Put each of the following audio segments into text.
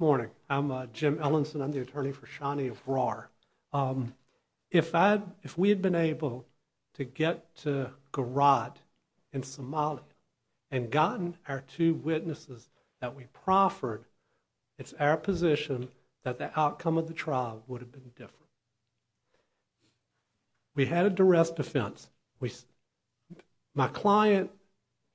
Morning. I'm Jim Ellison. I'm the attorney for Shani of RAR. If we had been able to get to Garad in Somalia and gotten our two witnesses that we proffered, it's our position that the outcome of the trial would have been different. We had a duress defense. My client,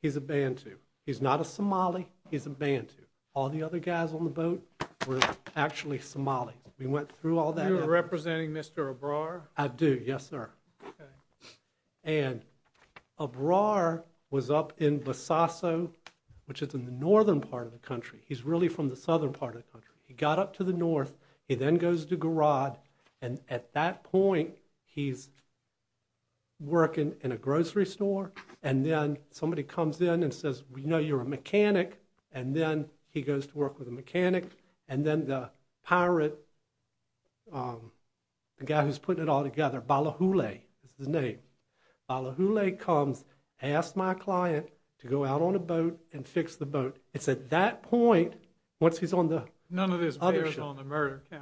he's a Bantu. He's not a Somali. He's a Bantu. All the other guys on the boat were actually Somalis. We went through all that effort. You were representing Mr. Ebrar? I do, yes sir. And Ebrar was up in Besaso, which is in the northern part of the country. He's really from the southern part of the country. He got up to the north. He then goes to Garad, and at that point he's working in a grocery store, and then somebody comes in and says, you know, you're a mechanic, and then he goes to work with a mechanic, and then the pirate, the guy who's putting it all together, Balahule, that's his name, Balahule comes, asks my client to go out on a boat and fix the boat. It's at that point, once he's on the other ship,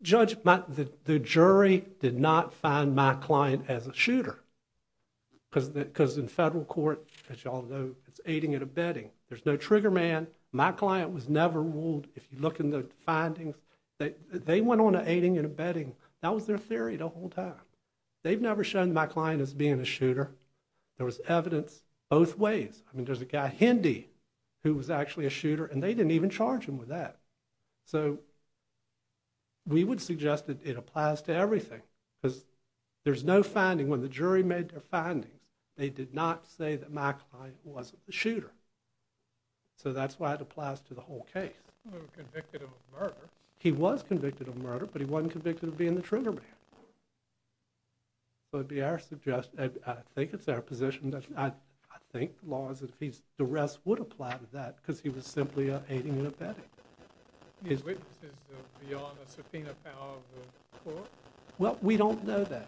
judge, the jury did not find my client as a shooter, because in federal court, as you all know, it's aiding and abetting. There's no trigger man. My client was never ruled, if you look in the They went on to aiding and abetting. That was their theory the whole time. They've never shown my client as being a shooter. There was evidence both ways. I mean, there's a guy, Hindy, who was actually a shooter, and they didn't even charge him with that. So we would suggest that it applies to everything, because there's no finding. When the jury made their findings, they did not say that my client was a shooter. So that's why it applies to the whole case. He was convicted of murder, but he wasn't convicted of being the trigger man. So it would be our suggestion, I think it's our position, I think, as long as the rest would apply to that, because he was simply aiding and abetting. Well, we don't know that.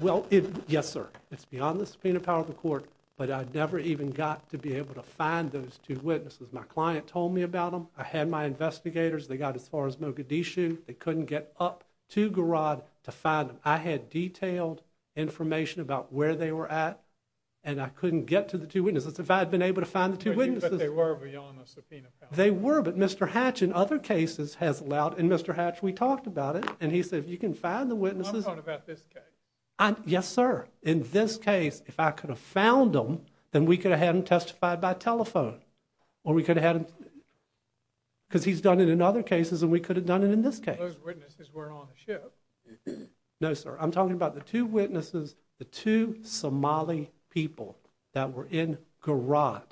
Well, yes sir, it's beyond the subpoena power of the court, but I never even got to be able to find those two witnesses. My client told me about them. I had my investigators. They got as far as Mogadishu. They couldn't get up to Garod to find them. I had detailed information about where they were at, and I couldn't get to the two witnesses. If I had been able to find the two witnesses. But they were beyond the subpoena power. They were, but Mr. Hatch, in other cases, has allowed, and Mr. Hatch, we talked about it, and he said, you can find the witnesses. I'm talking about this case. Yes sir. In this case, if I could have found them, then we could have had them testified by telephone, or we could have had them, because he's done it in other cases, and we could have done it in this case. Those witnesses weren't on the ship. No sir, I'm talking about the two witnesses, the two Somali people that were in Garod,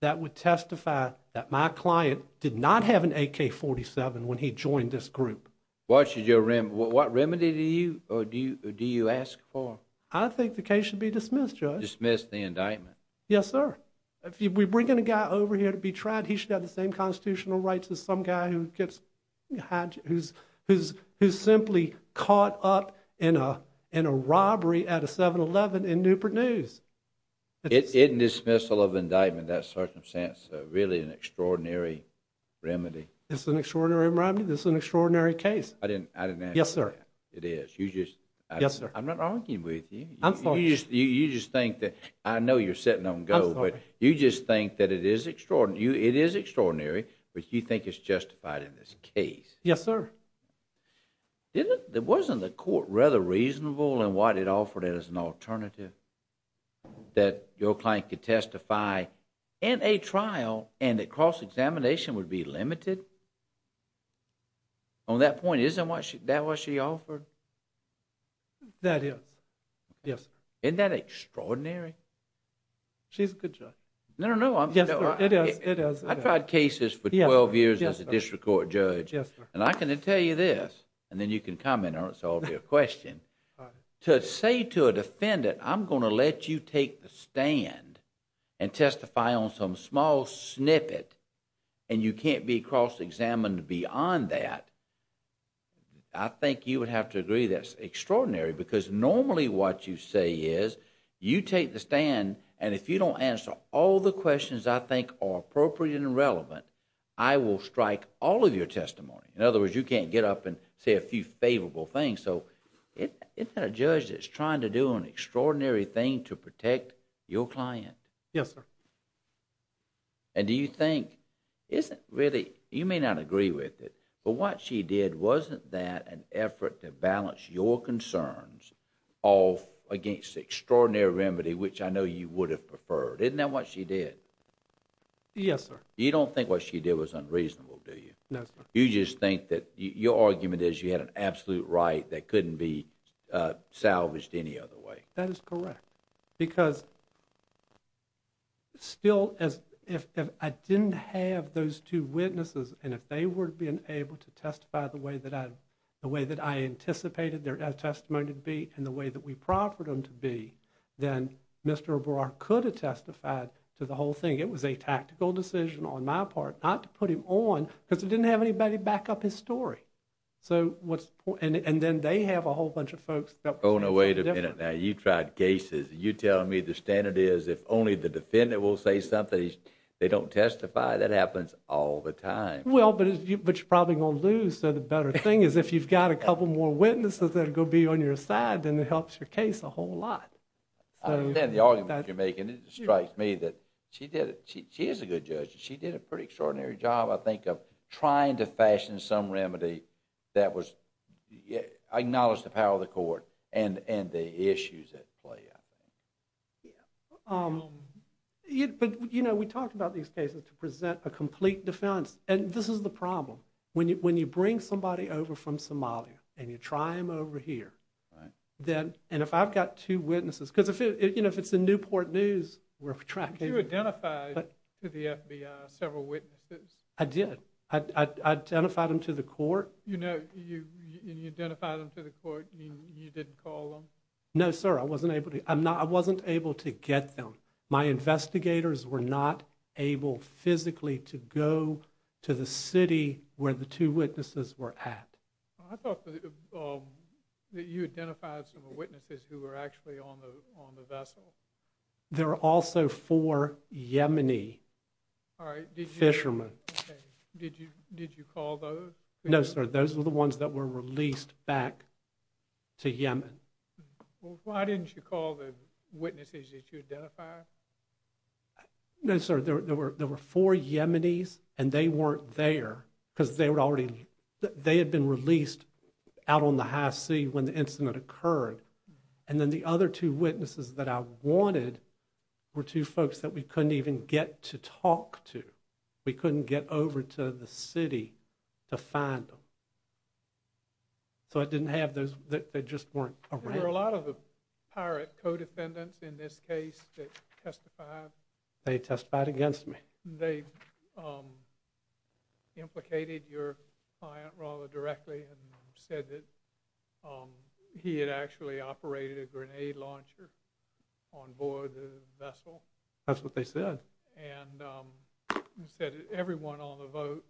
that would testify that my client did not have an AK-47 when he joined this group. What should your, what remedy do you, or do you ask for? I think the case should be dismissed, Judge. Dismiss the indictment. Yes sir. If we bring in a guy over here to be tried, he should have the same constitutional rights as some guy who gets, who's simply caught up in a robbery at a 7-Eleven in Newport News. It's a dismissal of indictment, that circumstance, really an extraordinary remedy. It's an extraordinary remedy? This is an extraordinary case. I didn't, I didn't ask for that. Yes sir. It is. You just, I'm not arguing with you. I'm sorry. You just think that, I know you're sitting on go, but you just think that it is extraordinary, you, it is extraordinary, but you think it's justified in this case. Yes sir. Isn't, wasn't the court rather reasonable in what it offered as an alternative? That your client could testify in a trial and that cross-examination would be limited? On that point, isn't that what she offered? That is, yes. Isn't that extraordinary? She's a good judge. No, no, no. Yes sir, it is, it is. I've tried cases for 12 years as a district court judge. Yes sir. And I can tell you this, and then you can comment on it, so I'll be a question. All right. To say to a defendant, I'm going to let you take the stand and testify on some small snippet, and you can't be cross-examined beyond that, I think you would have to agree that's extraordinary, because normally what you say is, you take the stand, and if you don't answer all the questions I think are appropriate and relevant, I will strike all of your testimony. In other words, you can't get up and say a few favorable things, so isn't that a judge that's trying to do an extraordinary thing to protect your client? Yes sir. And do you think, isn't really, you may not agree with it, but what she did, wasn't that an effort to balance your concerns off against the extraordinary remedy, which I know you would have preferred? Isn't that what she did? Yes sir. You don't think what she did was unreasonable, do you? No sir. You just think that, your argument is you had an absolute right that couldn't be salvaged any other way. That is correct, because still, if I didn't have those two witnesses, and if they were being able to testify the way that I anticipated their testimony to be, and the way that we proffered them to be, then Mr. O'Barra could have testified to the whole thing. It was a tactical decision on my part, not to put him on, because we didn't have anybody back up his story. So, what's the point, and then they have a whole bunch of folks that were doing something different. Oh no, wait a minute now, you tried cases, and you're telling me the standard is if only the defendant will say something, they don't testify? That happens all the time. Well, but you're probably going to lose, so the better thing is if you've got a couple more witnesses that are going to be on your side, then it helps your case a whole lot. I understand the argument you're making, it strikes me that she did it, she is a good judge, she did a pretty extraordinary job, I think, of trying to fashion some remedy that was, acknowledged the power of the court, and the issues at play, I think. Yeah, but you know, we talked about these cases to present a complete defense, and this is the problem. When you bring somebody over from Somalia, and you try them over here, then, and if I've got two witnesses, because if it's the Newport News, we're tracking... Did you identify to the FBI several witnesses? I did, I identified them to the court. You know, you identified them to the court, you didn't call them? No sir, I wasn't able to, I'm not, I wasn't able to get them, my investigators were not able physically to go to the city where the two witnesses were at. I thought that you identified some of the witnesses who were actually on the vessel. There were also four Yemeni fishermen. Did you call those? No sir, those were the ones that were released back to Yemen. Well, why didn't you call the witnesses that you identified? No sir, there were four Yemenis, and they weren't there, because they were already, they had been released out on the high sea when the incident occurred. And then the other two witnesses that I wanted were two folks that we couldn't even get to talk to, we couldn't get over to the city to find them. So I didn't have those, they just weren't around. Were there a lot of the pirate co-defendants in this case that testified? They testified against me. They implicated your client rather directly and said that he had actually operated a grenade launcher on board the vessel? That's what they said. And they said everyone on the boat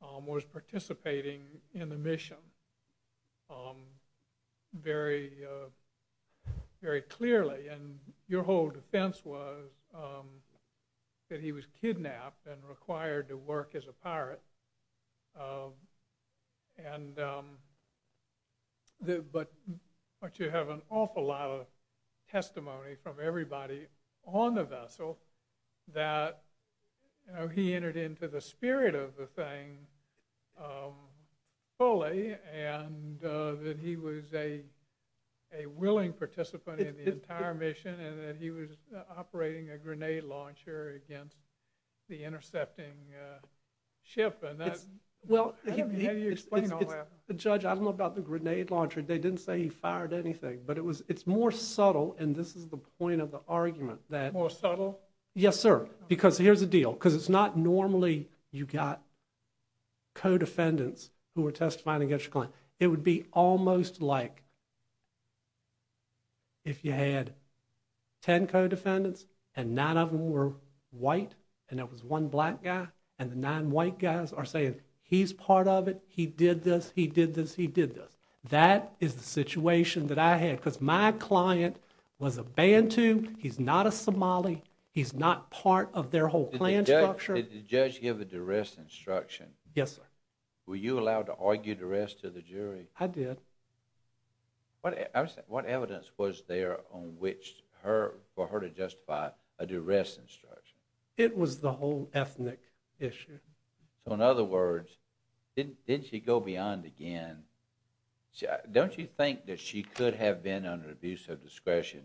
was participating in the mission very clearly. And your whole defense was that he was kidnapped and required to work as a pirate. But you have an awful lot of testimony from everybody on the vessel that he entered into the spirit of the thing fully, and that he was a willing participant in the entire mission, and that he was operating a grenade launcher against the intercepting ship. And that, how do you explain all that? Well, Judge, I don't know about the grenade launcher, they didn't say he fired anything. But it was, it's more subtle, and this is the point of the argument. More subtle? Yes sir, because here's the deal. Because it's not normally you got co-defendants who were testifying against your client. It would be almost like if you had 10 co-defendants and nine of them were white, and it was one black guy, and the nine white guys are saying, he's part of it, he did this, he did this, he did this. That is the situation that I had. Because my client was a Bantu, he's not a Somali, he's not part of their whole clan structure. Did the judge give a duress instruction? Yes sir. Were you allowed to argue duress to the jury? I did. What evidence was there on which for her to justify a duress instruction? It was the whole ethnic issue. So in other words, didn't she go beyond again? Don't you think that she could have been under abuse of discretion?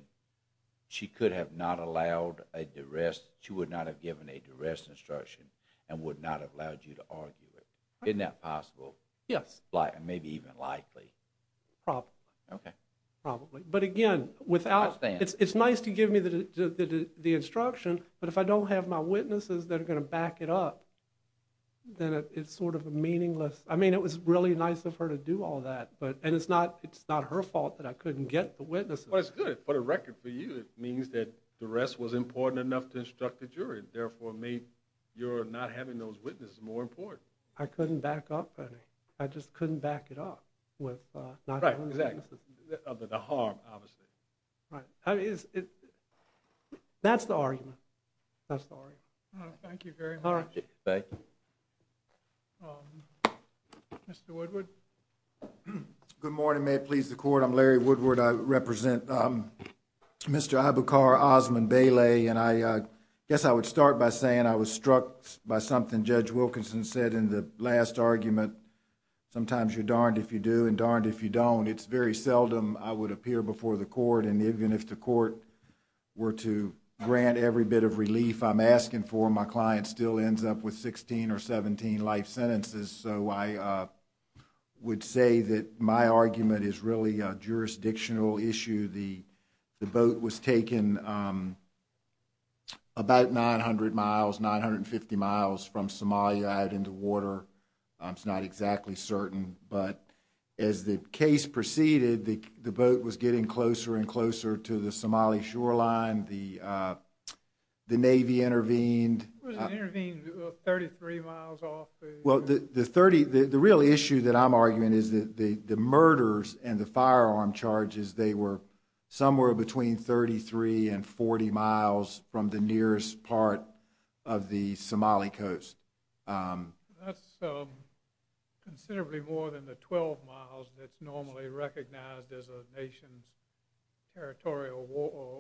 She could have not allowed a duress, she would not have given a duress instruction, and would not have allowed you to argue it. Isn't that possible? Yes. And maybe even likely? Probably. Okay. Probably. But again, it's nice to give me the instruction, but if I don't have my witnesses that are going to back it up, then it's sort of meaningless. I mean, it was really nice of her to do all that, and it's not her fault that I couldn't get the witnesses. Well, that's good. For the record, for you, it means that duress was important enough to instruct the jury, therefore made your not having those witnesses more important. I couldn't back up any. I just couldn't back it up with not having the witnesses. Right, exactly. Other than the harm, obviously. Right. That's the argument. That's the argument. Thank you very much. All right. Thank you. Mr. Woodward. Good morning. May it please the court. I'm Larry Woodward. I represent Mr. Aboukar Osman-Belay, and I guess I would start by saying I was struck by something Judge Wilkinson said in the last argument. Sometimes you're darned if you do and darned if you don't. It's very seldom I would appear before the court, and even if the court were to grant every bit of relief I'm asking for, my client still ends up with 16 or 17 life sentences. So I would say that my argument is really a jurisdictional issue. The boat was taken about 900 miles, 950 miles from Somalia out into water. It's not exactly certain, but as the case proceeded, the boat was getting closer and closer to the Somali shoreline. The Navy intervened. It was intervened 33 miles off. Well, the real issue that I'm arguing is that the murders and the firearm charges, they were somewhere between 33 and 40 miles from the nearest part of the Somali coast. That's considerably more than the 12 miles that's normally recognized as a nation's territorial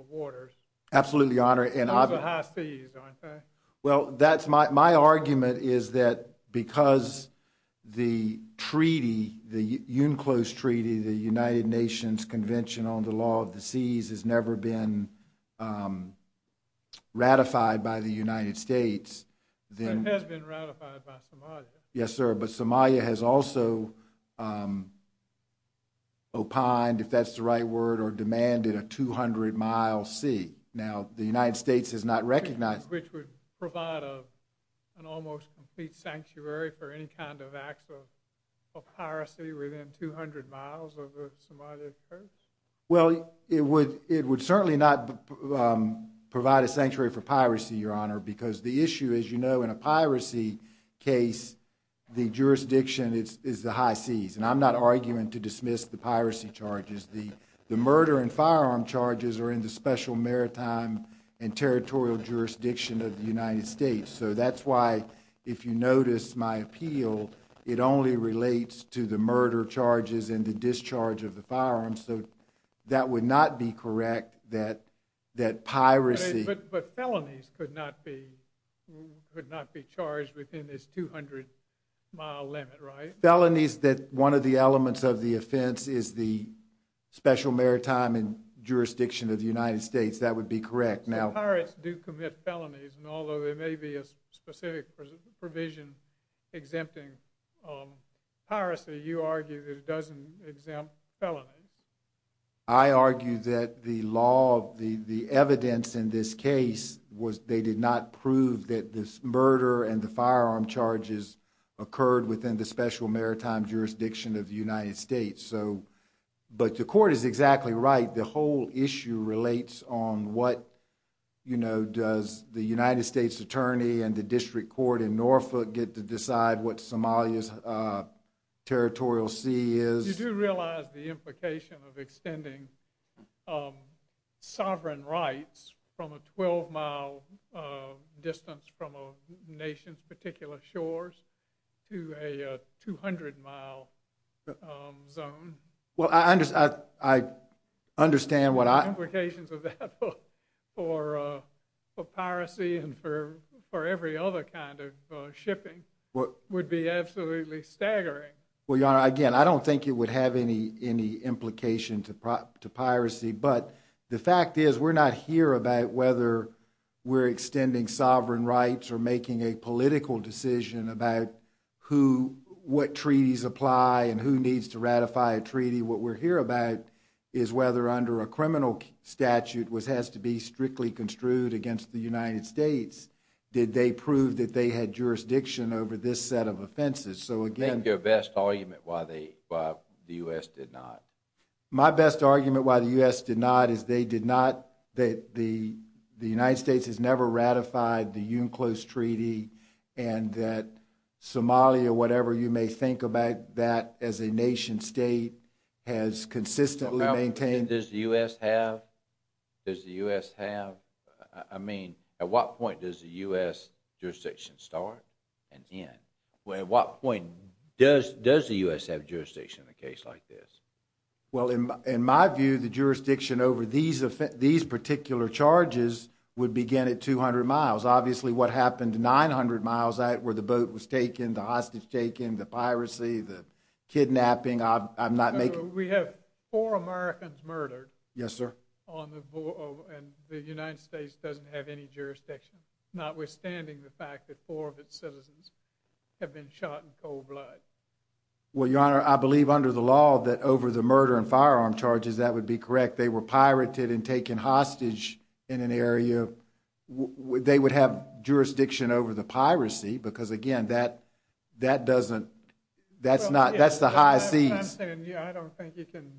waters. Absolutely, Your Honor. Those are high seas, aren't they? Well, that's my argument is that because the treaty, the UNCLOS Treaty, the United Nations Convention on the Law of the Seas, has never been ratified by the United States. It has been ratified by Somalia. Yes, sir. But Somalia has also opined, if that's the right word, or demanded a 200-mile sea. Now, the United States has not recognized that. Which would provide an almost complete sanctuary for any kind of acts of piracy within 200 miles of the Somali coast? Well, it would certainly not provide a sanctuary for piracy, Your Honor, because the issue, as you know, in a piracy case, the jurisdiction is the high seas. And I'm not arguing to dismiss the piracy charges. The murder and firearm charges are in the special maritime and territorial jurisdiction of the United States. So that's why, if you notice my appeal, it only relates to the murder charges and the discharge of the firearms. So that would not be correct that piracy— But felonies could not be charged within this 200-mile limit, right? Felonies that one of the elements of the offense is the special maritime and jurisdiction of the United States. That would be correct. Pirates do commit felonies. And although there may be a specific provision exempting piracy, you argue that it doesn't exempt felonies. I argue that the law, the evidence in this case, they did not prove that this murder and the firearm charges occurred within the special maritime jurisdiction of the United States. But the court is exactly right. The whole issue relates on what, you know, does the United States attorney and the district court in Norfolk get to decide what Somalia's territorial sea is? You do realize the implication of extending sovereign rights from a 12-mile distance from a nation's particular shores to a 200-mile zone? Well, I understand what I— Implications of that for piracy and for every other kind of shipping would be absolutely staggering. Well, Your Honor, again, I don't think it would have any implication to piracy. But the fact is, we're not here about whether we're extending sovereign rights or making a political decision about what treaties apply and who needs to ratify a treaty. What we're here about is whether under a criminal statute, which has to be strictly construed against the United States, did they prove that they had jurisdiction over this set of offenses. So, again— Make your best argument why the U.S. did not. My best argument why the U.S. did not is they did not— that the United States has never ratified the UNCLOS Treaty and that Somalia, whatever you may think about that as a nation-state, has consistently maintained— Does the U.S. have? Does the U.S. have? I mean, at what point does the U.S. jurisdiction start and end? Well, at what point does the U.S. have jurisdiction in a case like this? Well, in my view, the jurisdiction over these particular charges would begin at 200 miles. Obviously, what happened 900 miles where the boat was taken, the hostage taken, the piracy, the kidnapping, I'm not making— We have four Americans murdered— Yes, sir. —on the—and the United States doesn't have any jurisdiction, notwithstanding the fact that four of its citizens have been shot in cold blood. Well, Your Honor, I believe under the law that over the murder and firearm charges, that would be correct. They were pirated and taken hostage in an area. Would they would have jurisdiction over the piracy? Because again, that doesn't—that's not—that's the high seas. Well, I'm saying, yeah, I don't think you can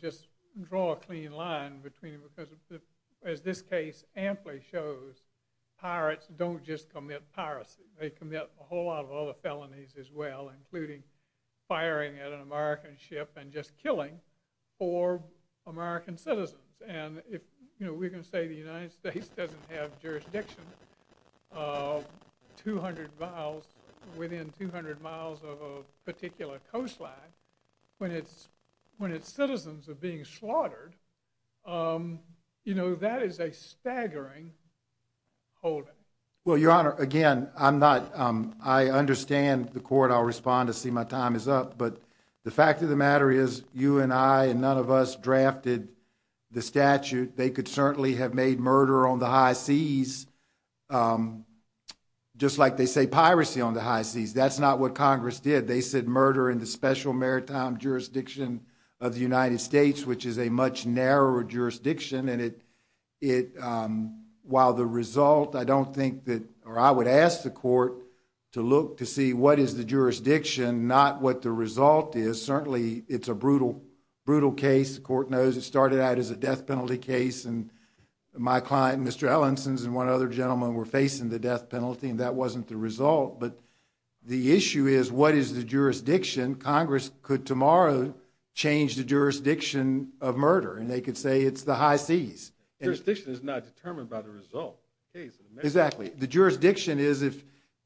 just draw a clean line between them because as this case amply shows, pirates don't just commit piracy. They commit a whole lot of other felonies as well, including firing at an American ship and just killing four American citizens. And if we can say the United States doesn't have jurisdiction within 200 miles of a particular coastline when its citizens are being slaughtered, you know, that is a staggering holding. Well, Your Honor, again, I'm not—I understand the court. I'll respond to see my time is up. But the fact of the matter is you and I and none of us drafted the statute. They could certainly have made murder on the high seas, just like they say piracy on the high seas. That's not what Congress did. They said murder in the special maritime jurisdiction of the United States, which is a much narrower jurisdiction. And it—while the result, I don't think that—or I would ask the court to look to see what is the jurisdiction, not what the result is. Certainly, it's a brutal, brutal case. The court knows it started out as a death penalty case. And my client, Mr. Ellenson, and one other gentleman were facing the death penalty, and that wasn't the result. But the issue is what is the jurisdiction. Congress could tomorrow change the jurisdiction of murder, and they could say it's the high seas. Jurisdiction is not determined by the result. Exactly. The jurisdiction is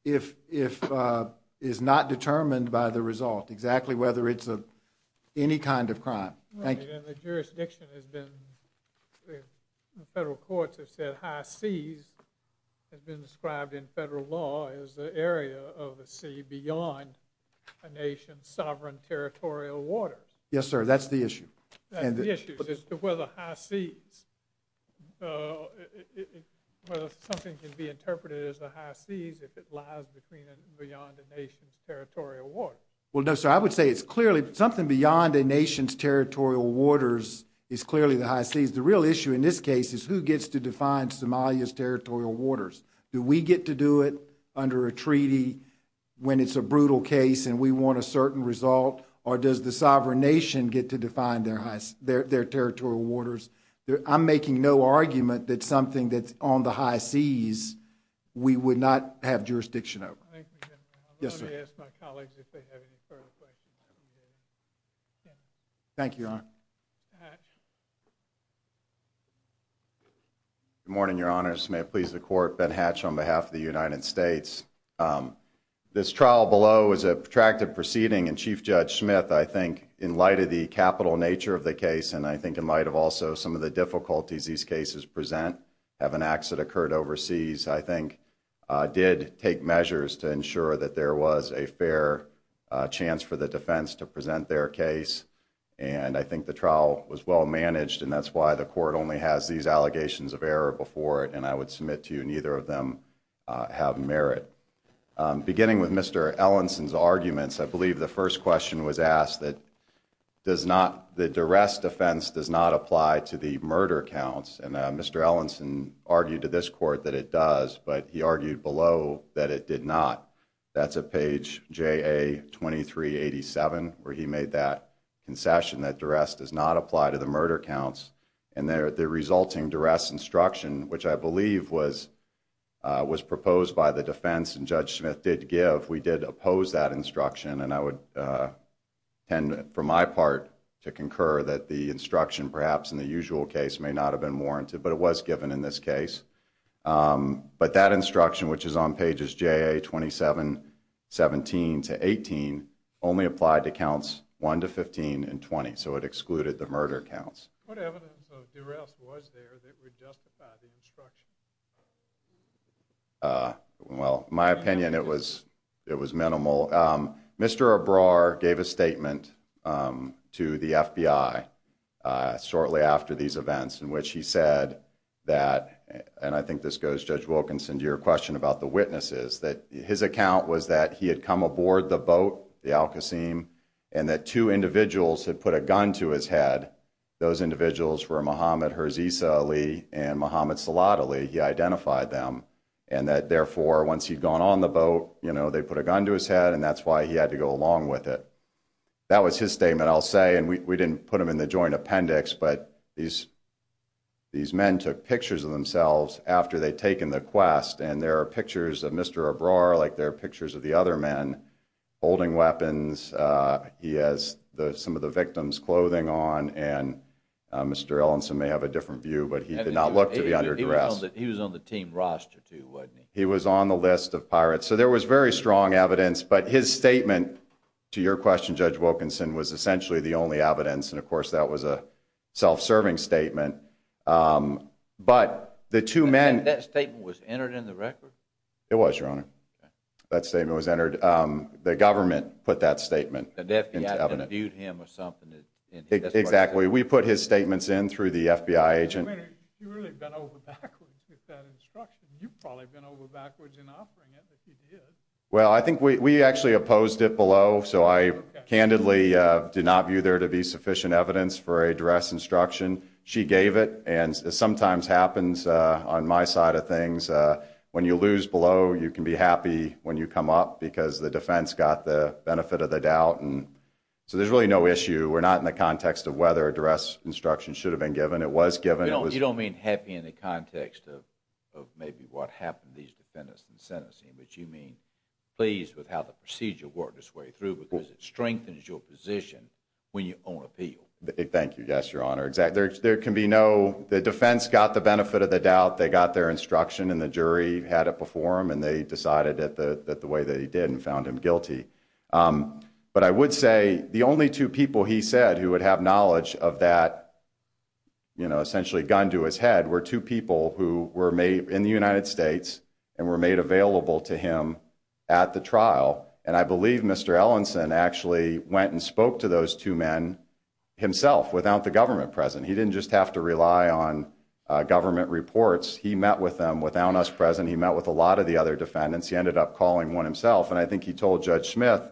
if—is not determined by the result, exactly whether it's any kind of crime. Thank you. And the jurisdiction has been—the federal courts have said high seas has been described in federal law as the area of the sea beyond a nation's sovereign territorial waters. Yes, sir, that's the issue. That's the issue, is to whether high seas— whether something can be interpreted as the high seas if it lies between and beyond a nation's territorial waters. Well, no, sir, I would say it's clearly something beyond a nation's territorial waters is clearly the high seas. The real issue in this case is who gets to define Somalia's territorial waters. Do we get to do it under a treaty when it's a brutal case and we want a certain result, or does the sovereign nation get to define their territorial waters? I'm making no argument that something that's on the high seas we would not have jurisdiction over. Thank you, General. Yes, sir. Ask my colleagues if they have any further questions. Thank you, Your Honor. Good morning, Your Honor. This may please the Court. Ben Hatch on behalf of the United States. This trial below is a protracted proceeding, and Chief Judge Smith, I think, in light of the capital nature of the case and I think in light of also some of the difficulties these cases present, having acts that occurred overseas, I think, did take measures to ensure that there was a fair chance for the defense to present their case. And I think the trial was well managed, and that's why the Court only has these allegations of error before it, and I would submit to you neither of them have merit. Beginning with Mr. Ellenson's arguments, I believe the first question was asked, that the duress defense does not apply to the murder counts. And Mr. Ellenson argued to this Court that it does, but he argued below that it did not. That's at page JA-2387, where he made that concession, that duress does not apply to the murder counts. And the resulting duress instruction, which I believe was proposed by the defense, and Judge Smith did give, we did oppose that instruction. And I would tend, for my part, to concur that the instruction, perhaps in the usual case, may not have been warranted, but it was given in this case. But that instruction, which is on pages JA-2717 to 18, only applied to counts 1 to 15 and 20, so it excluded the murder counts. What evidence of duress was there that would justify the instruction? Well, my opinion, it was minimal. Mr. Ebrar gave a statement to the FBI shortly after these events, in which he said that, and I think this goes, Judge Wilkinson, to your question about the witnesses, that his account was that he had come aboard the boat, the Al-Qasim, and that two individuals had put a gun to his head. Those individuals were Muhammad Herzisa Ali and Muhammad Salad Ali. He identified them. And that, therefore, once he'd gone on the boat, you know, they put a gun to his head, and that's why he had to go along with it. That was his statement, I'll say. And we didn't put him in the joint appendix, but these men took pictures of themselves after they'd taken the quest, and there are pictures of Mr. Ebrar, like there are pictures of the other men, holding weapons. He has some of the victim's clothing on, and Mr. Ellenson may have a different view, but he did not look to be under duress. He was on the team roster, too, wasn't he? He was on the list of pirates. So there was very strong evidence, but his statement to your question, Judge Wilkinson, was essentially the only evidence, and, of course, that was a self-serving statement. But the two men- That statement was entered in the record? It was, Your Honor. That statement was entered. The government put that statement into evidence. The FBI had to have viewed him or something. Exactly. We put his statements in through the FBI agent. I mean, you really went over backwards with that instruction. You probably went over backwards in offering it, but you did. Well, I think we actually opposed it below, so I candidly did not view there to be sufficient evidence for a duress instruction. She gave it, and it sometimes happens on my side of things. When you lose below, you can be happy when you come up, because the defense got the benefit of the doubt. And so there's really no issue. We're not in the context of whether a duress instruction should have been given. It was given. You don't mean happy in the context of maybe what happened to these defendants in the sentencing, but you mean pleased with how the procedure worked because it strengthens your position when you own appeal. Thank you. Yes, Your Honor. Exactly. There can be no. The defense got the benefit of the doubt. They got their instruction, and the jury had it before him, and they decided that the way that he did and found him guilty. But I would say the only two people he said who would have knowledge of that essentially gun to his head were two people who were made in the United States and were made available to him at the trial. And I believe Mr. Ellenson actually went and spoke to those two men himself without the government present. He didn't just have to rely on government reports. He met with them without us present. He met with a lot of the other defendants. He ended up calling one himself, and I think he told Judge Smith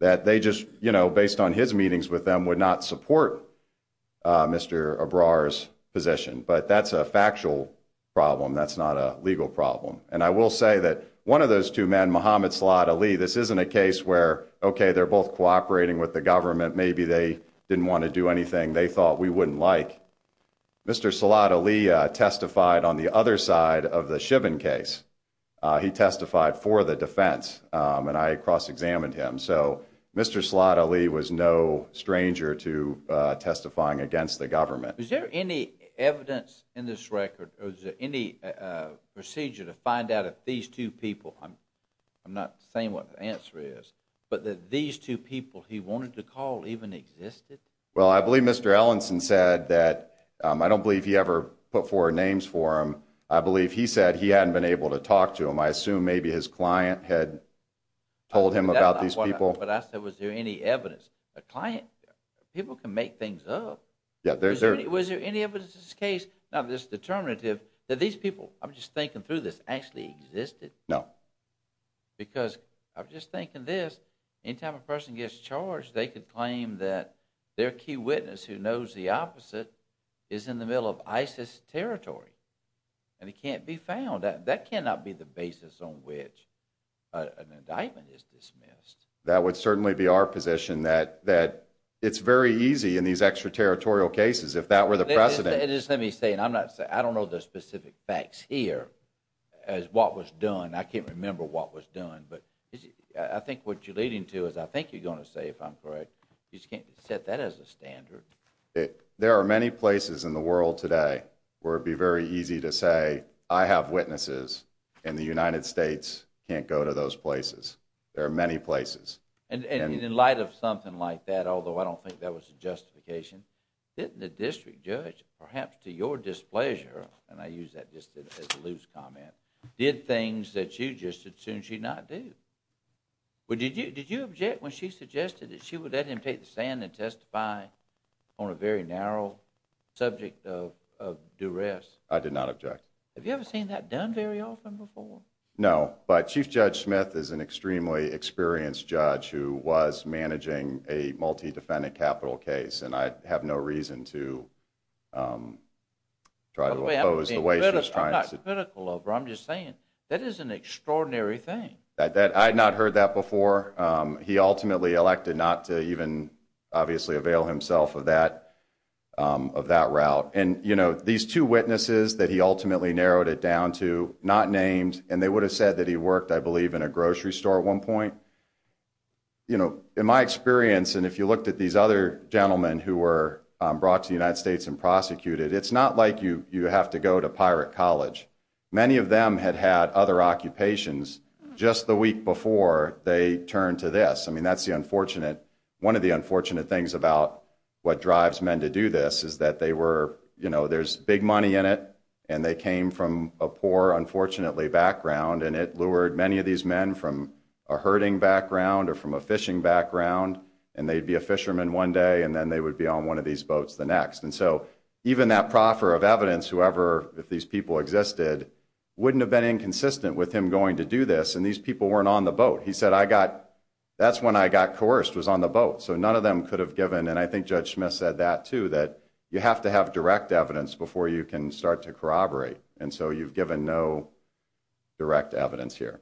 that they just, you know, based on his meetings with them, would not support Mr. Ebrar's position. But that's a factual problem. That's not a legal problem. And I will say that one of those two men, this isn't a case where, okay, they're both cooperating with the government. Maybe they didn't want to do anything they thought we wouldn't like. Mr. Salat Ali testified on the other side of the Chivin case. He testified for the defense, and I cross-examined him. So Mr. Salat Ali was no stranger to testifying against the government. Is there any evidence in this record, or is there any procedure to find out that these two people, I'm not saying what the answer is, but that these two people he wanted to call even existed? Well, I believe Mr. Ellenson said that, I don't believe he ever put forward names for them. I believe he said he hadn't been able to talk to them. I assume maybe his client had told him about these people. But I said, was there any evidence? A client, people can make things up. Was there any evidence in this case, not this determinative, that these people, I'm just thinking through this, actually existed? No. Because I'm just thinking this, any time a person gets charged, they could claim that their key witness, who knows the opposite, is in the middle of ISIS territory. And he can't be found. That cannot be the basis on which an indictment is dismissed. That would certainly be our position, that it's very easy in these extraterritorial cases, if that were the precedent. Just let me say, and I'm not saying, I don't know the specific facts here, as what was done. I can't remember what was done. But I think what you're leading to is, I think you're going to say, if I'm correct, you just can't set that as a standard. There are many places in the world today where it'd be very easy to say, I have witnesses, and the United States can't go to those places. There are many places. And in light of something like that, although I don't think that was a justification, didn't the district judge, perhaps to your displeasure, and I use that just as a loose comment, did things that you just assumed she'd not do? Did you object when she suggested that she would let him take the stand and testify on a very narrow subject of duress? I did not object. Have you ever seen that done very often before? No. But Chief Judge Smith is an extremely experienced judge who was managing a multi-defendant capital case. And I have no reason to try to oppose the way she was trying. I'm not critical of her. I'm just saying, that is an extraordinary thing. I had not heard that before. He ultimately elected not to even, obviously, avail himself of that route. And these two witnesses that he ultimately narrowed it down to, not named, and they would have said that he worked, I believe, in a grocery store at one point. In my experience, and if you looked at these other gentlemen who were brought to the United States and prosecuted, it's not like you have to go to pirate college. Many of them had had other occupations just the week before they turned to this. I mean, that's the unfortunate, one of the unfortunate things about what drives men to do this is that they were, you know, there's big money in it, and they came from a poor, unfortunately, background. And it lured many of these men from a herding background or from a fishing background. And they'd be a fisherman one day, and then they would be on one of these boats the next. And so even that proffer of evidence, whoever, if these people existed, wouldn't have been inconsistent with him going to do this. And these people weren't on the boat. He said, that's when I got coerced, was on the boat. So none of them could have given, and I think Judge Smith said that too, that you have to have direct evidence before you can start to corroborate. And so you've given no direct evidence here.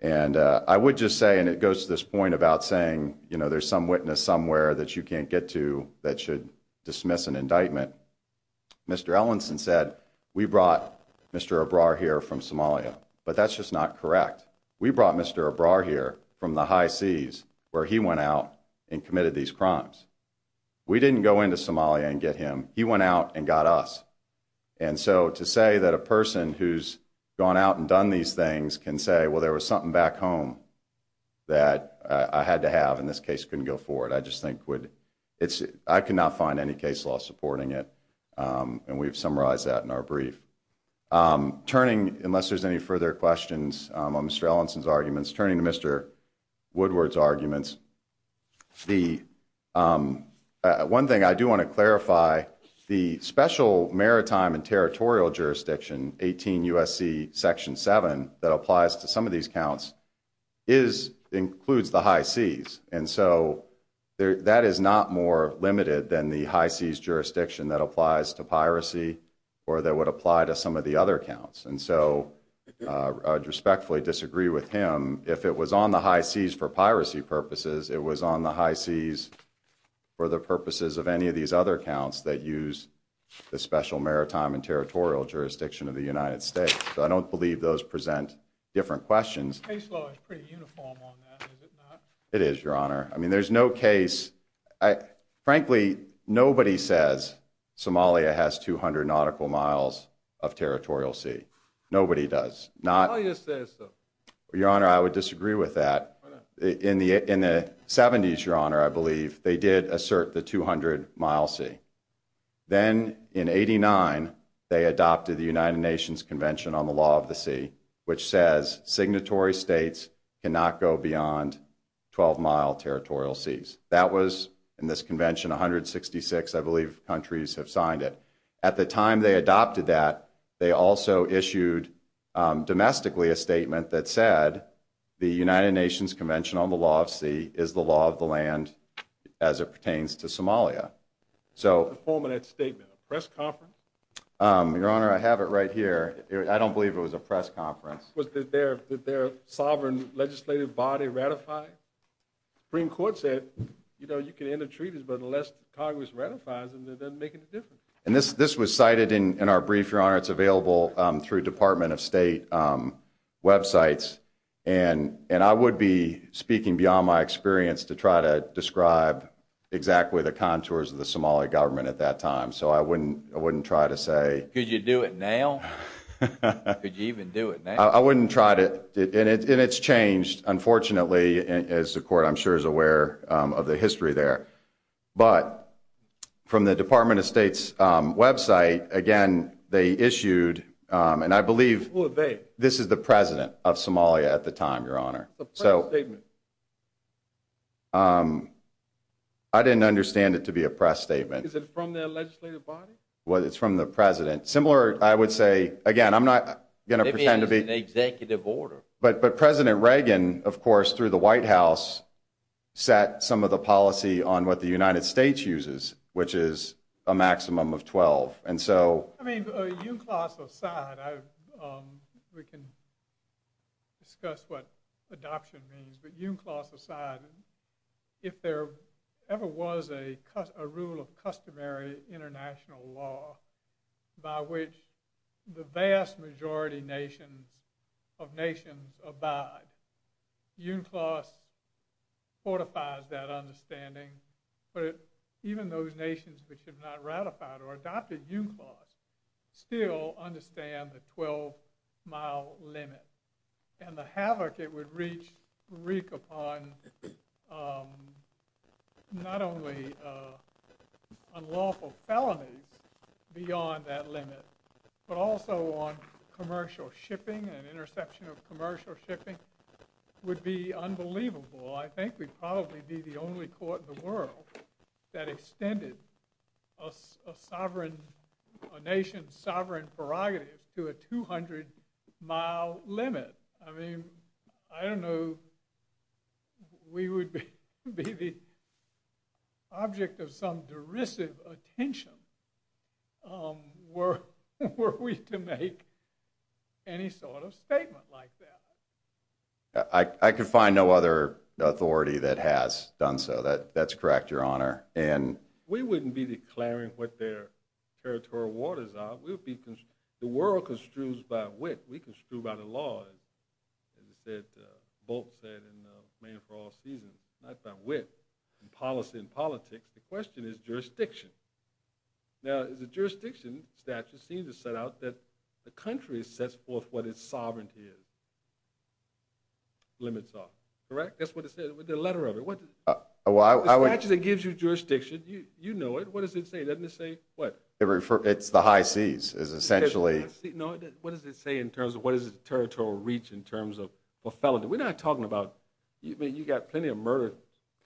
And I would just say, and it goes to this point about saying, there's some witness somewhere that you can't get to that should dismiss an indictment. Mr. Ellenson said, we brought Mr. Ebrar here from Somalia. But that's just not correct. We brought Mr. Ebrar here from the high seas where he went out and committed these crimes. We didn't go into Somalia and get him. He went out and got us. And so to say that a person who's gone out and done these things can say, well, there was something back home that I had to have and this case couldn't go forward, I just think I could not find any case law supporting it. And we've summarized that in our brief. Turning, unless there's any further questions on Mr. Ellenson's arguments, turning to Mr. Woodward's arguments. One thing I do want to clarify, the special maritime and territorial jurisdiction, 18 USC section seven, that applies to some of these counts, includes the high seas. So that is not more limited than the high seas jurisdiction that applies to piracy or that would apply to some of the other counts. And so I respectfully disagree with him. If it was on the high seas for piracy purposes, it was on the high seas for the purposes of any of these other counts that use the special maritime and territorial jurisdiction of the United States. So I don't believe those present different questions. Case law is pretty uniform on that, is it not? It is, your honor. I mean, there's no case, frankly, nobody says Somalia has 200 nautical miles of territorial sea. Nobody does. Your honor, I would disagree with that. In the seventies, your honor, I believe they did assert the 200 mile sea. Then in 89, they adopted the United Nations convention on the law of the sea, which says signatory states cannot go beyond 12 mile territorial seas. That was in this convention, 166, I believe countries have signed it. At the time they adopted that, they also issued domestically a statement that said the United Nations convention on the law of sea is the law of the land as it pertains to Somalia. So the statement press conference. Your honor, I have it right here. I don't believe it was a press conference. Was their sovereign legislative body ratified? The Supreme Court said, you know, you can end the treaties, but unless Congress ratifies them, that doesn't make any difference. And this was cited in our brief, your honor. It's available through Department of State websites. And I would be speaking beyond my experience to try to describe exactly the contours of the Somali government at that time. So I wouldn't try to say. Could you do it now? Could you even do it now? I wouldn't try to, and it's changed, unfortunately, as the court, I'm sure, is aware of the history there. But from the Department of State's website, again, they issued, and I believe. This is the president of Somalia at the time, your honor. I didn't understand it to be a press statement. Is it from their legislative body? It's from the president. Similar, I would say, again, I'm not gonna pretend to be. Maybe it's an executive order. But President Reagan, of course, through the White House, set some of the policy on what the United States uses, which is a maximum of 12. And so. I mean, you class aside, we can discuss what adoption means. But you class aside, if there ever was a rule of customary international law by which the vast majority of nations abide, you class fortifies that understanding. But even those nations which have not ratified or adopted you class still understand the 12 mile limit. And the havoc it would wreak upon not only unlawful felonies, beyond that limit, but also on commercial shipping and interception of commercial shipping would be unbelievable. I think we'd probably be the only court in the world that extended a nation's sovereign prerogatives to a 200 mile limit. I mean, I don't know. We would be the object of some derisive attention were we to make any sort of statement like that. I could find no other authority that has done so. That's correct, Your Honor. We wouldn't be declaring what their territorial waters are. We would be, the world construes by wit. We construe by the law. As Bolt said in Man for All Seasons, not by wit, in policy and politics. The question is jurisdiction. Now, the jurisdiction statute seems to set out that the country sets forth what its sovereignty is. Limits are. Correct? That's what it says, the letter of it. The statute that gives you jurisdiction, you know it. What does it say? Doesn't it say what? It's the high seas, is essentially. No, what does it say in terms of what is the territorial reach in terms of a felony? We're not talking about, I mean, you got plenty of murder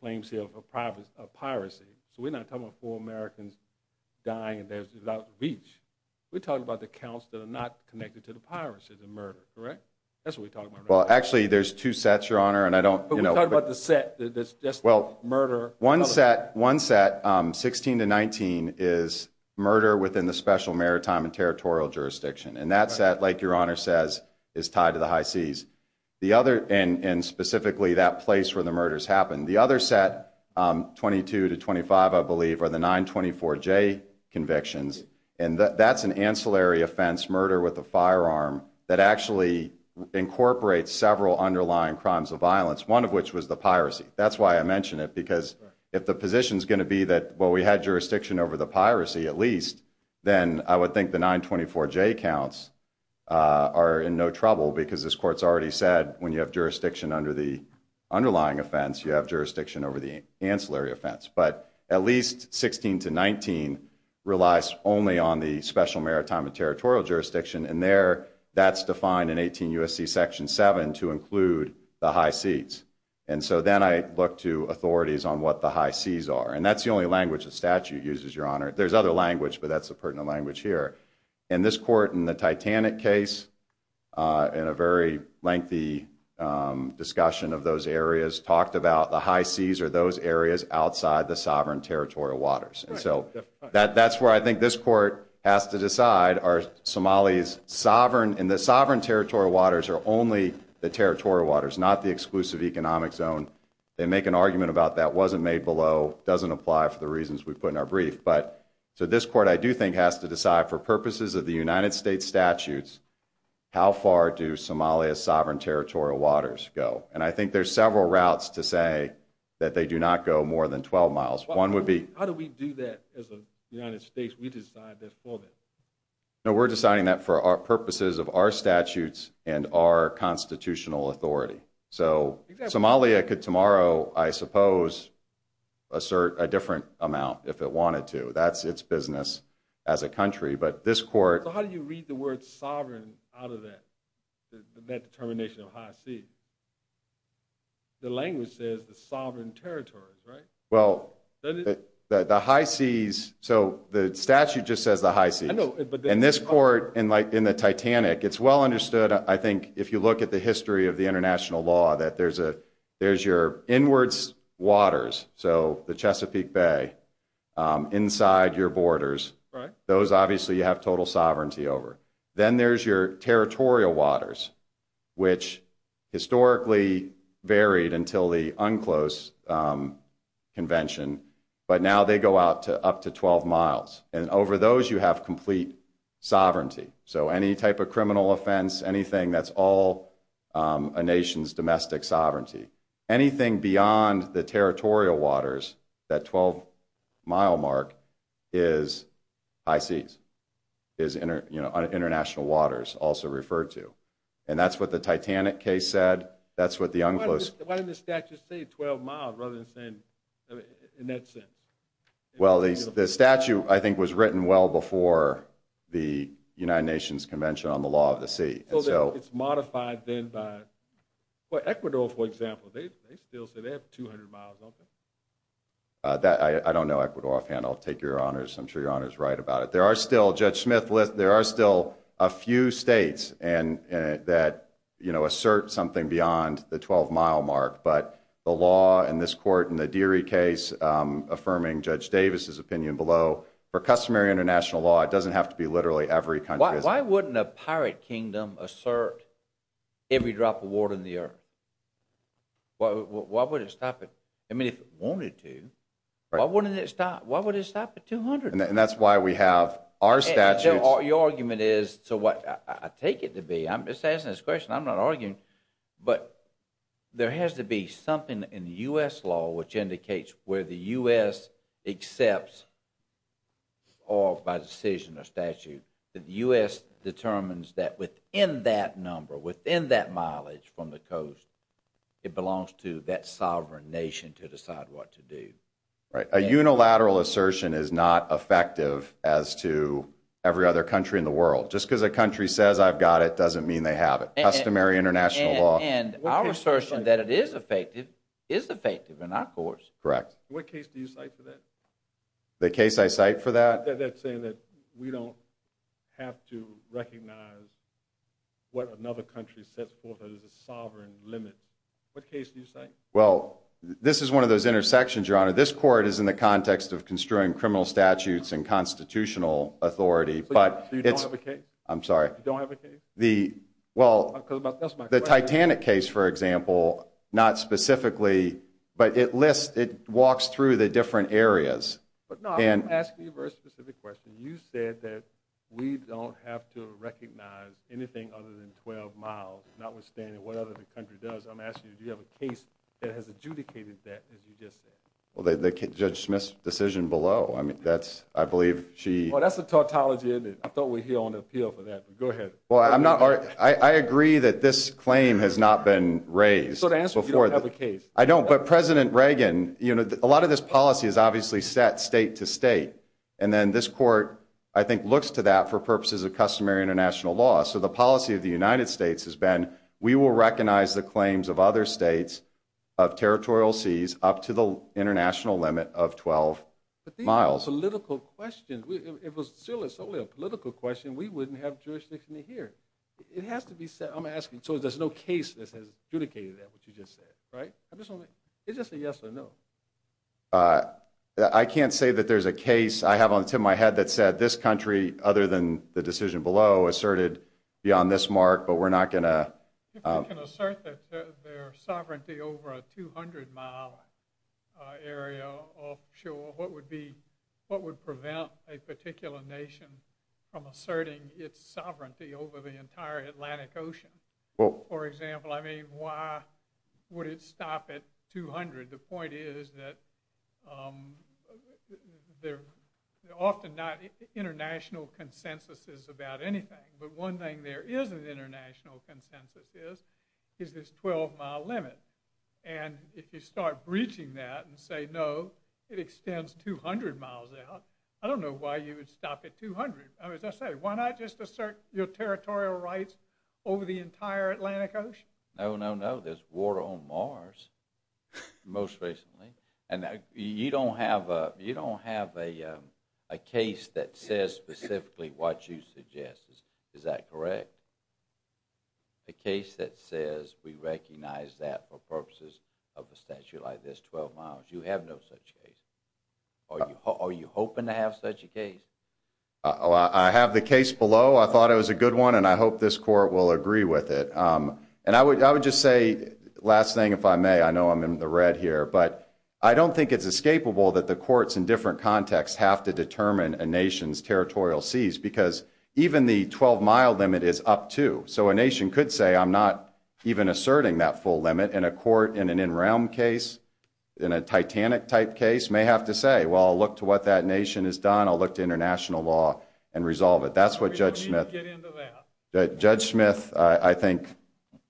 claims here of piracy. So we're not talking about Americans dying, and there's a lot of reach. We're talking about the counts that are not connected to the piracy, the murder, correct? That's what we're talking about. Well, actually, there's two sets, Your Honor, and I don't know about the set that's just murder. One set. One set, 16 to 19, is murder within the special maritime and territorial jurisdiction. And that's that, like Your Honor says, is tied to the high seas. The other, and specifically that place where the murders happened. The other set, 22 to 25, are the 924J convictions. And that's an ancillary offense, murder with a firearm, that actually incorporates several underlying crimes of violence, one of which was the piracy. That's why I mentioned it, because if the position is going to be that, well, we had jurisdiction over the piracy at least, then I would think the 924J counts are in no trouble, because this court's already said when you have jurisdiction under the underlying offense, you have jurisdiction over the ancillary offense. But at least 16 to 19 relies only on the special maritime and territorial jurisdiction. And there, that's defined in 18 U.S.C. section 7 to include the high seas. And so then I look to authorities on what the high seas are. And that's the only language the statute uses, Your Honor. There's other language, but that's a pertinent language here. And this court in the Titanic case, in a very lengthy discussion of those areas, talked about the high seas are those areas outside the sovereign territorial waters. And so that's where I think this court has to decide are Somali's sovereign and the sovereign territorial waters are only the territorial waters, not the exclusive economic zone. They make an argument about that wasn't made below, doesn't apply for the reasons we put in our brief. But to this court, I do think has to decide for purposes of the United States statutes, how far do Somalia's sovereign territorial waters go? And I think there's several routes to say that they do not go more than 12 miles. One would be, how do we do that as a United States? We decide that for that. No, we're deciding that for our purposes of our statutes and our constitutional authority. So Somalia could tomorrow, I suppose, assert a different amount if it wanted to. That's its business as a country. But this court, how do you read the word sovereign out of that determination of high sea? The language says the sovereign territories, right? Well, the high seas, so the statute just says the high seas. I know, but- And this court in the Titanic, it's well understood, I think, if you look at the history of the international law, that there's your inwards waters, so the Chesapeake Bay inside your borders. Right. Those, obviously, you have total sovereignty over. Then there's your territorial waters, which historically varied until the UNCLOS convention, but now they go out to up to 12 miles. And over those, you have complete sovereignty. So any type of criminal offense, anything that's all a nation's domestic sovereignty, anything beyond the territorial waters, that 12 mile mark is high seas, is international waters also referred to. And that's what the Titanic case said. That's what the UNCLOS- Why didn't the statute say 12 miles rather than saying, in that sense? Well, the statute, I think, was written well before the United Nations Convention on the Law of the Sea. So it's modified then by, well, Ecuador, for example, they still say they have 200 miles, don't they? I don't know, Ecuador. If I can, I'll take your honors. I'm sure your honor's right about it. There are still, Judge Smith, there are still a few states that assert something beyond the 12 mile mark. But the law in this court, in the Deary case, affirming Judge Davis's opinion below, for customary international law, it doesn't have to be literally every country- Why wouldn't a pirate kingdom assert every drop of water in the earth? Why would it stop it? I mean, if it wanted to, why wouldn't it stop? Why would it stop at 200? And that's why we have our statutes- Your argument is, so what I take it to be, I'm just asking this question, I'm not arguing, but there has to be something in the U.S. law which indicates where the U.S. accepts, or by decision or statute, that the U.S. determines that within that number, within that mileage from the coast, it belongs to that sovereign nation to decide what to do. Right, a unilateral assertion is not effective as to every other country in the world, just because a country says I've got it doesn't mean they have it. Customary international law- And our assertion that it is effective is effective in our courts. Correct. What case do you cite for that? The case I cite for that? That's saying that we don't have to recognize what another country sets forth as a sovereign limit. What case do you cite? Well, this is one of those intersections, Your Honor. This court is in the context of construing criminal statutes and constitutional authority, but it's- So you don't have a case? I'm sorry. You don't have a case? The, well, the Titanic case, for example, not specifically, but it lists, it walks through the different areas. But no, I'm asking you a very specific question. You said that we don't have to recognize anything other than 12 miles, notwithstanding what other country does. I'm asking you, do you have a case that has adjudicated that, as you just said? Well, Judge Smith's decision below, I mean, that's, I believe she- Well, that's a tautology, isn't it? I thought we're here on appeal for that, but go ahead. Well, I'm not, I agree that this claim has not been raised before- So to answer, you don't have a case? I don't, but President Reagan, you know, a lot of this policy is obviously set state to state. And then this court, I think, looks to that for purposes of customary international law. So the policy of the United States has been, we will recognize the claims of other states of territorial seas up to the international limit of 12 miles. But these are all political questions. If it was solely a political question, we wouldn't have jurisdiction here. It has to be said, I'm asking, so there's no case that has adjudicated that, what you just said, right? I'm just wondering, is this a yes or no? I can't say that there's a case. I have on the tip of my head that said, this country, other than the decision below, asserted beyond this mark, but we're not gonna- If we can assert that their sovereignty over a 200-mile area offshore, what would prevent a particular nation from asserting its sovereignty over the entire Atlantic Ocean? For example, I mean, why would it stop at 200? The point is that there are often not international consensuses about anything. But one thing there is an international consensus is, is this 12-mile limit. And if you start breaching that and say no, it extends 200 miles out, I don't know why you would stop at 200. I mean, as I said, why not just assert your territorial rights over the entire Atlantic Ocean? No, no, no, there's water on Mars, most recently. And you don't have a case that says specifically what you suggest, is that correct? A case that says we recognize that for purposes of a statute like this, 12 miles. You have no such case. Are you hoping to have such a case? I have the case below. I thought it was a good one, and I hope this court will agree with it. And I would just say, last thing, if I may, I know I'm in the red here, but I don't think it's escapable that the courts in different contexts have to determine a nation's territorial seas because even the 12-mile limit is up too. So a nation could say, I'm not even asserting that full limit. And a court in an in-realm case, in a Titanic-type case, may have to say, well, I'll look to what that nation has done. I'll look to international law and resolve it. That's what Judge Smith- We don't need to get into that. Judge Smith, I think,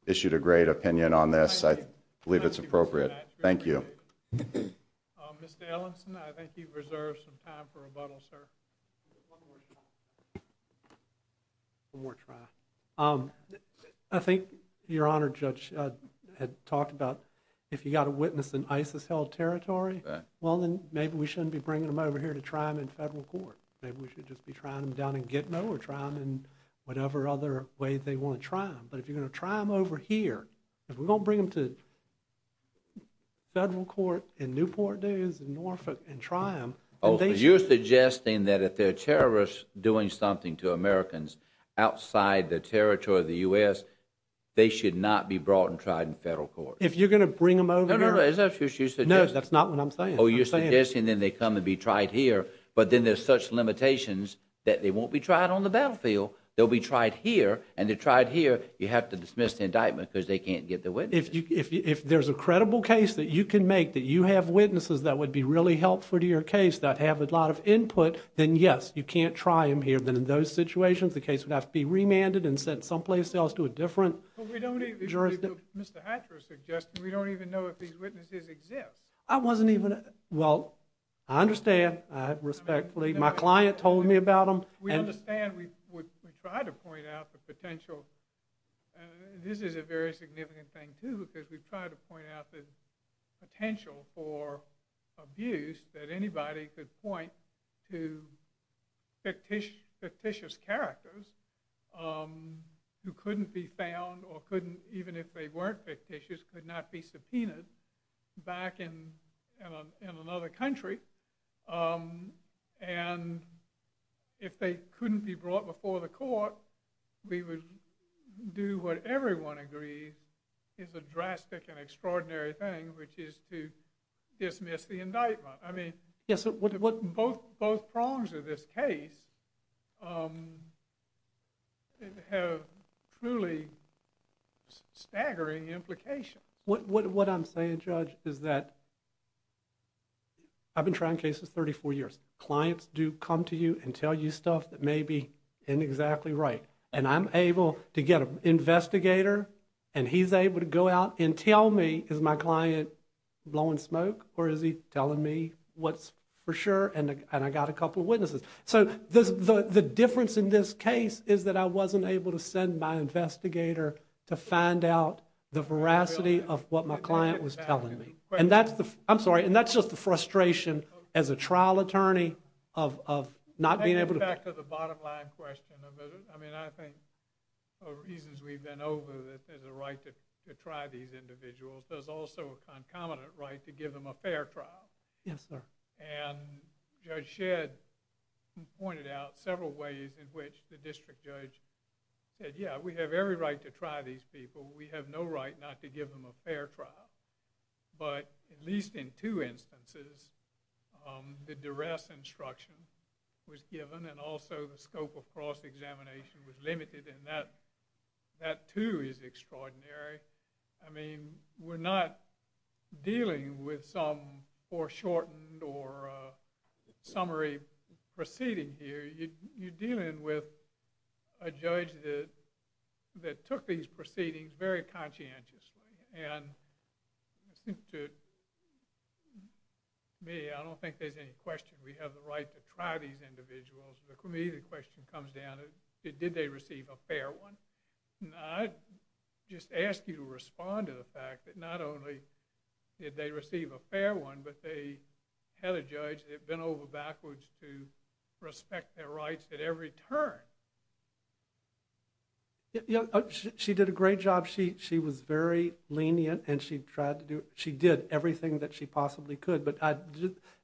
issued a great opinion on this. I believe it's appropriate. Thank you. Mr. Ellenson, I think you've reserved some time for rebuttal, sir. One more try. One more try. I think Your Honor, Judge had talked about if you got a witness in ISIS-held territory, well, then maybe we shouldn't be bringing them over here to try them in federal court. Maybe we should just be trying them down in Gitmo or try them in whatever other way they want to try them. But if you're going to try them over here, if we're going to bring them to federal court in Newport News in Norfolk and try them- Oh, so you're suggesting that if they're terrorists doing something to Americans outside the territory of the U.S., they should not be brought and tried in federal court? If you're going to bring them over- No, no, no. Is that what you're suggesting? No, that's not what I'm saying. Oh, you're suggesting then they come and be tried here, but then there's such limitations that they won't be tried on the battlefield. They'll be tried here, and to try it here, you have to dismiss the indictment because they can't get the witness. If there's a credible case that you can make, that you have witnesses that would be really helpful to your case, that have a lot of input, then yes, you can't try them here. Then in those situations, the case would have to be remanded and sent someplace else to a different jurisdiction. But we don't even- Mr. Hatcher is suggesting we don't even know if these witnesses exist. I wasn't even- Well, I understand. I respectfully- My client told me about them. We understand. We try to point out the potential. This is a very significant thing, too, because we try to point out the potential for abuse that anybody could point to fictitious characters who couldn't be found or couldn't, even if they weren't fictitious, could not be subpoenaed back in another country. And if they couldn't be brought before the court, we would do what everyone agrees is a drastic and extraordinary thing, which is to dismiss the indictment. I mean, both prongs of this case have truly staggering implications. What I'm saying, Judge, is that I've been trying cases 34 years. Clients do come to you and tell you stuff that may be inexactly right. And I'm able to get an investigator, and he's able to go out and tell me, is my client blowing smoke, or is he telling me what's for sure? And I got a couple of witnesses. So the difference in this case is that I wasn't able to send my investigator to find out the veracity of what my client was telling me. And that's the- I'm sorry. And that's just the frustration as a trial attorney of not being able to- Getting back to the bottom line question of it, I mean, I think the reasons we've been over that there's a right to try these individuals there's also a concomitant right to give them a fair trial. Yes, sir. And Judge Shedd pointed out several ways in which the district judge said, yeah, we have every right to try these people. We have no right not to give them a fair trial. But at least in two instances, the duress instruction was given, and also the scope of cross-examination was limited. And that too is extraordinary. I mean, we're not dealing with some foreshortened or summary proceeding here. You're dealing with a judge that took these proceedings very conscientiously. And to me, I don't think there's any question we have the right to try these individuals. For me, the question comes down, did they receive a fair one? I just ask you to respond to the fact that not only did they receive a fair one, but they had a judge that bent over backwards to respect their rights at every turn. She did a great job. She was very lenient, and she tried to do, she did everything that she possibly could. But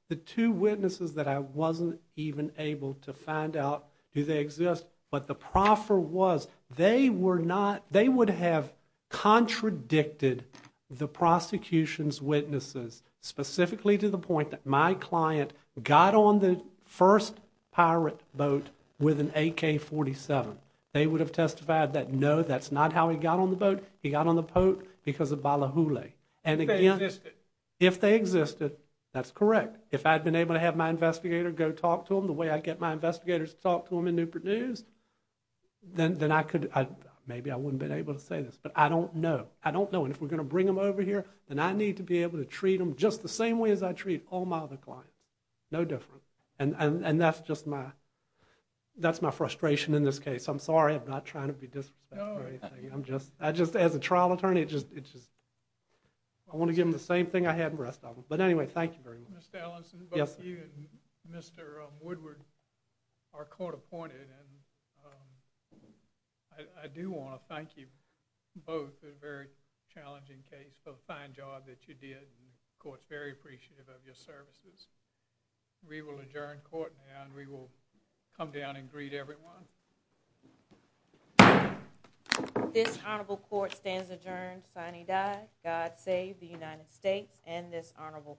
the two witnesses that I wasn't even able to find out do they exist, but the proffer was, they were not, they would have contradicted the prosecution's witnesses specifically to the point that my client got on the first pirate boat with an AK-47. They would have testified that, no, that's not how he got on the boat. He got on the boat because of balahule. And again, if they existed, that's correct. If I'd been able to have my investigator go talk to them the way I get my investigators to talk to them in Newport News, then I could, maybe I wouldn't have been able to say this, but I don't know. I don't know. And if we're going to bring them over here, then I need to be able to treat them just the same way as I treat all my other clients. No different. And that's just my, that's my frustration in this case. I'm sorry, I'm not trying to be disrespectful or anything. I'm just, I just, as a trial attorney, it just, it just, I want to give them the same thing I had the rest of them. But anyway, thank you very much. Mr. Ellison, both you and Mr. Woodward are court appointed. And I do want to thank you both. It's a very challenging case for the fine job that you did. And the court's very appreciative of your services. We will adjourn court now. And we will come down and greet everyone. This honorable court stands adjourned. Signee die. God save the United States and this honorable court.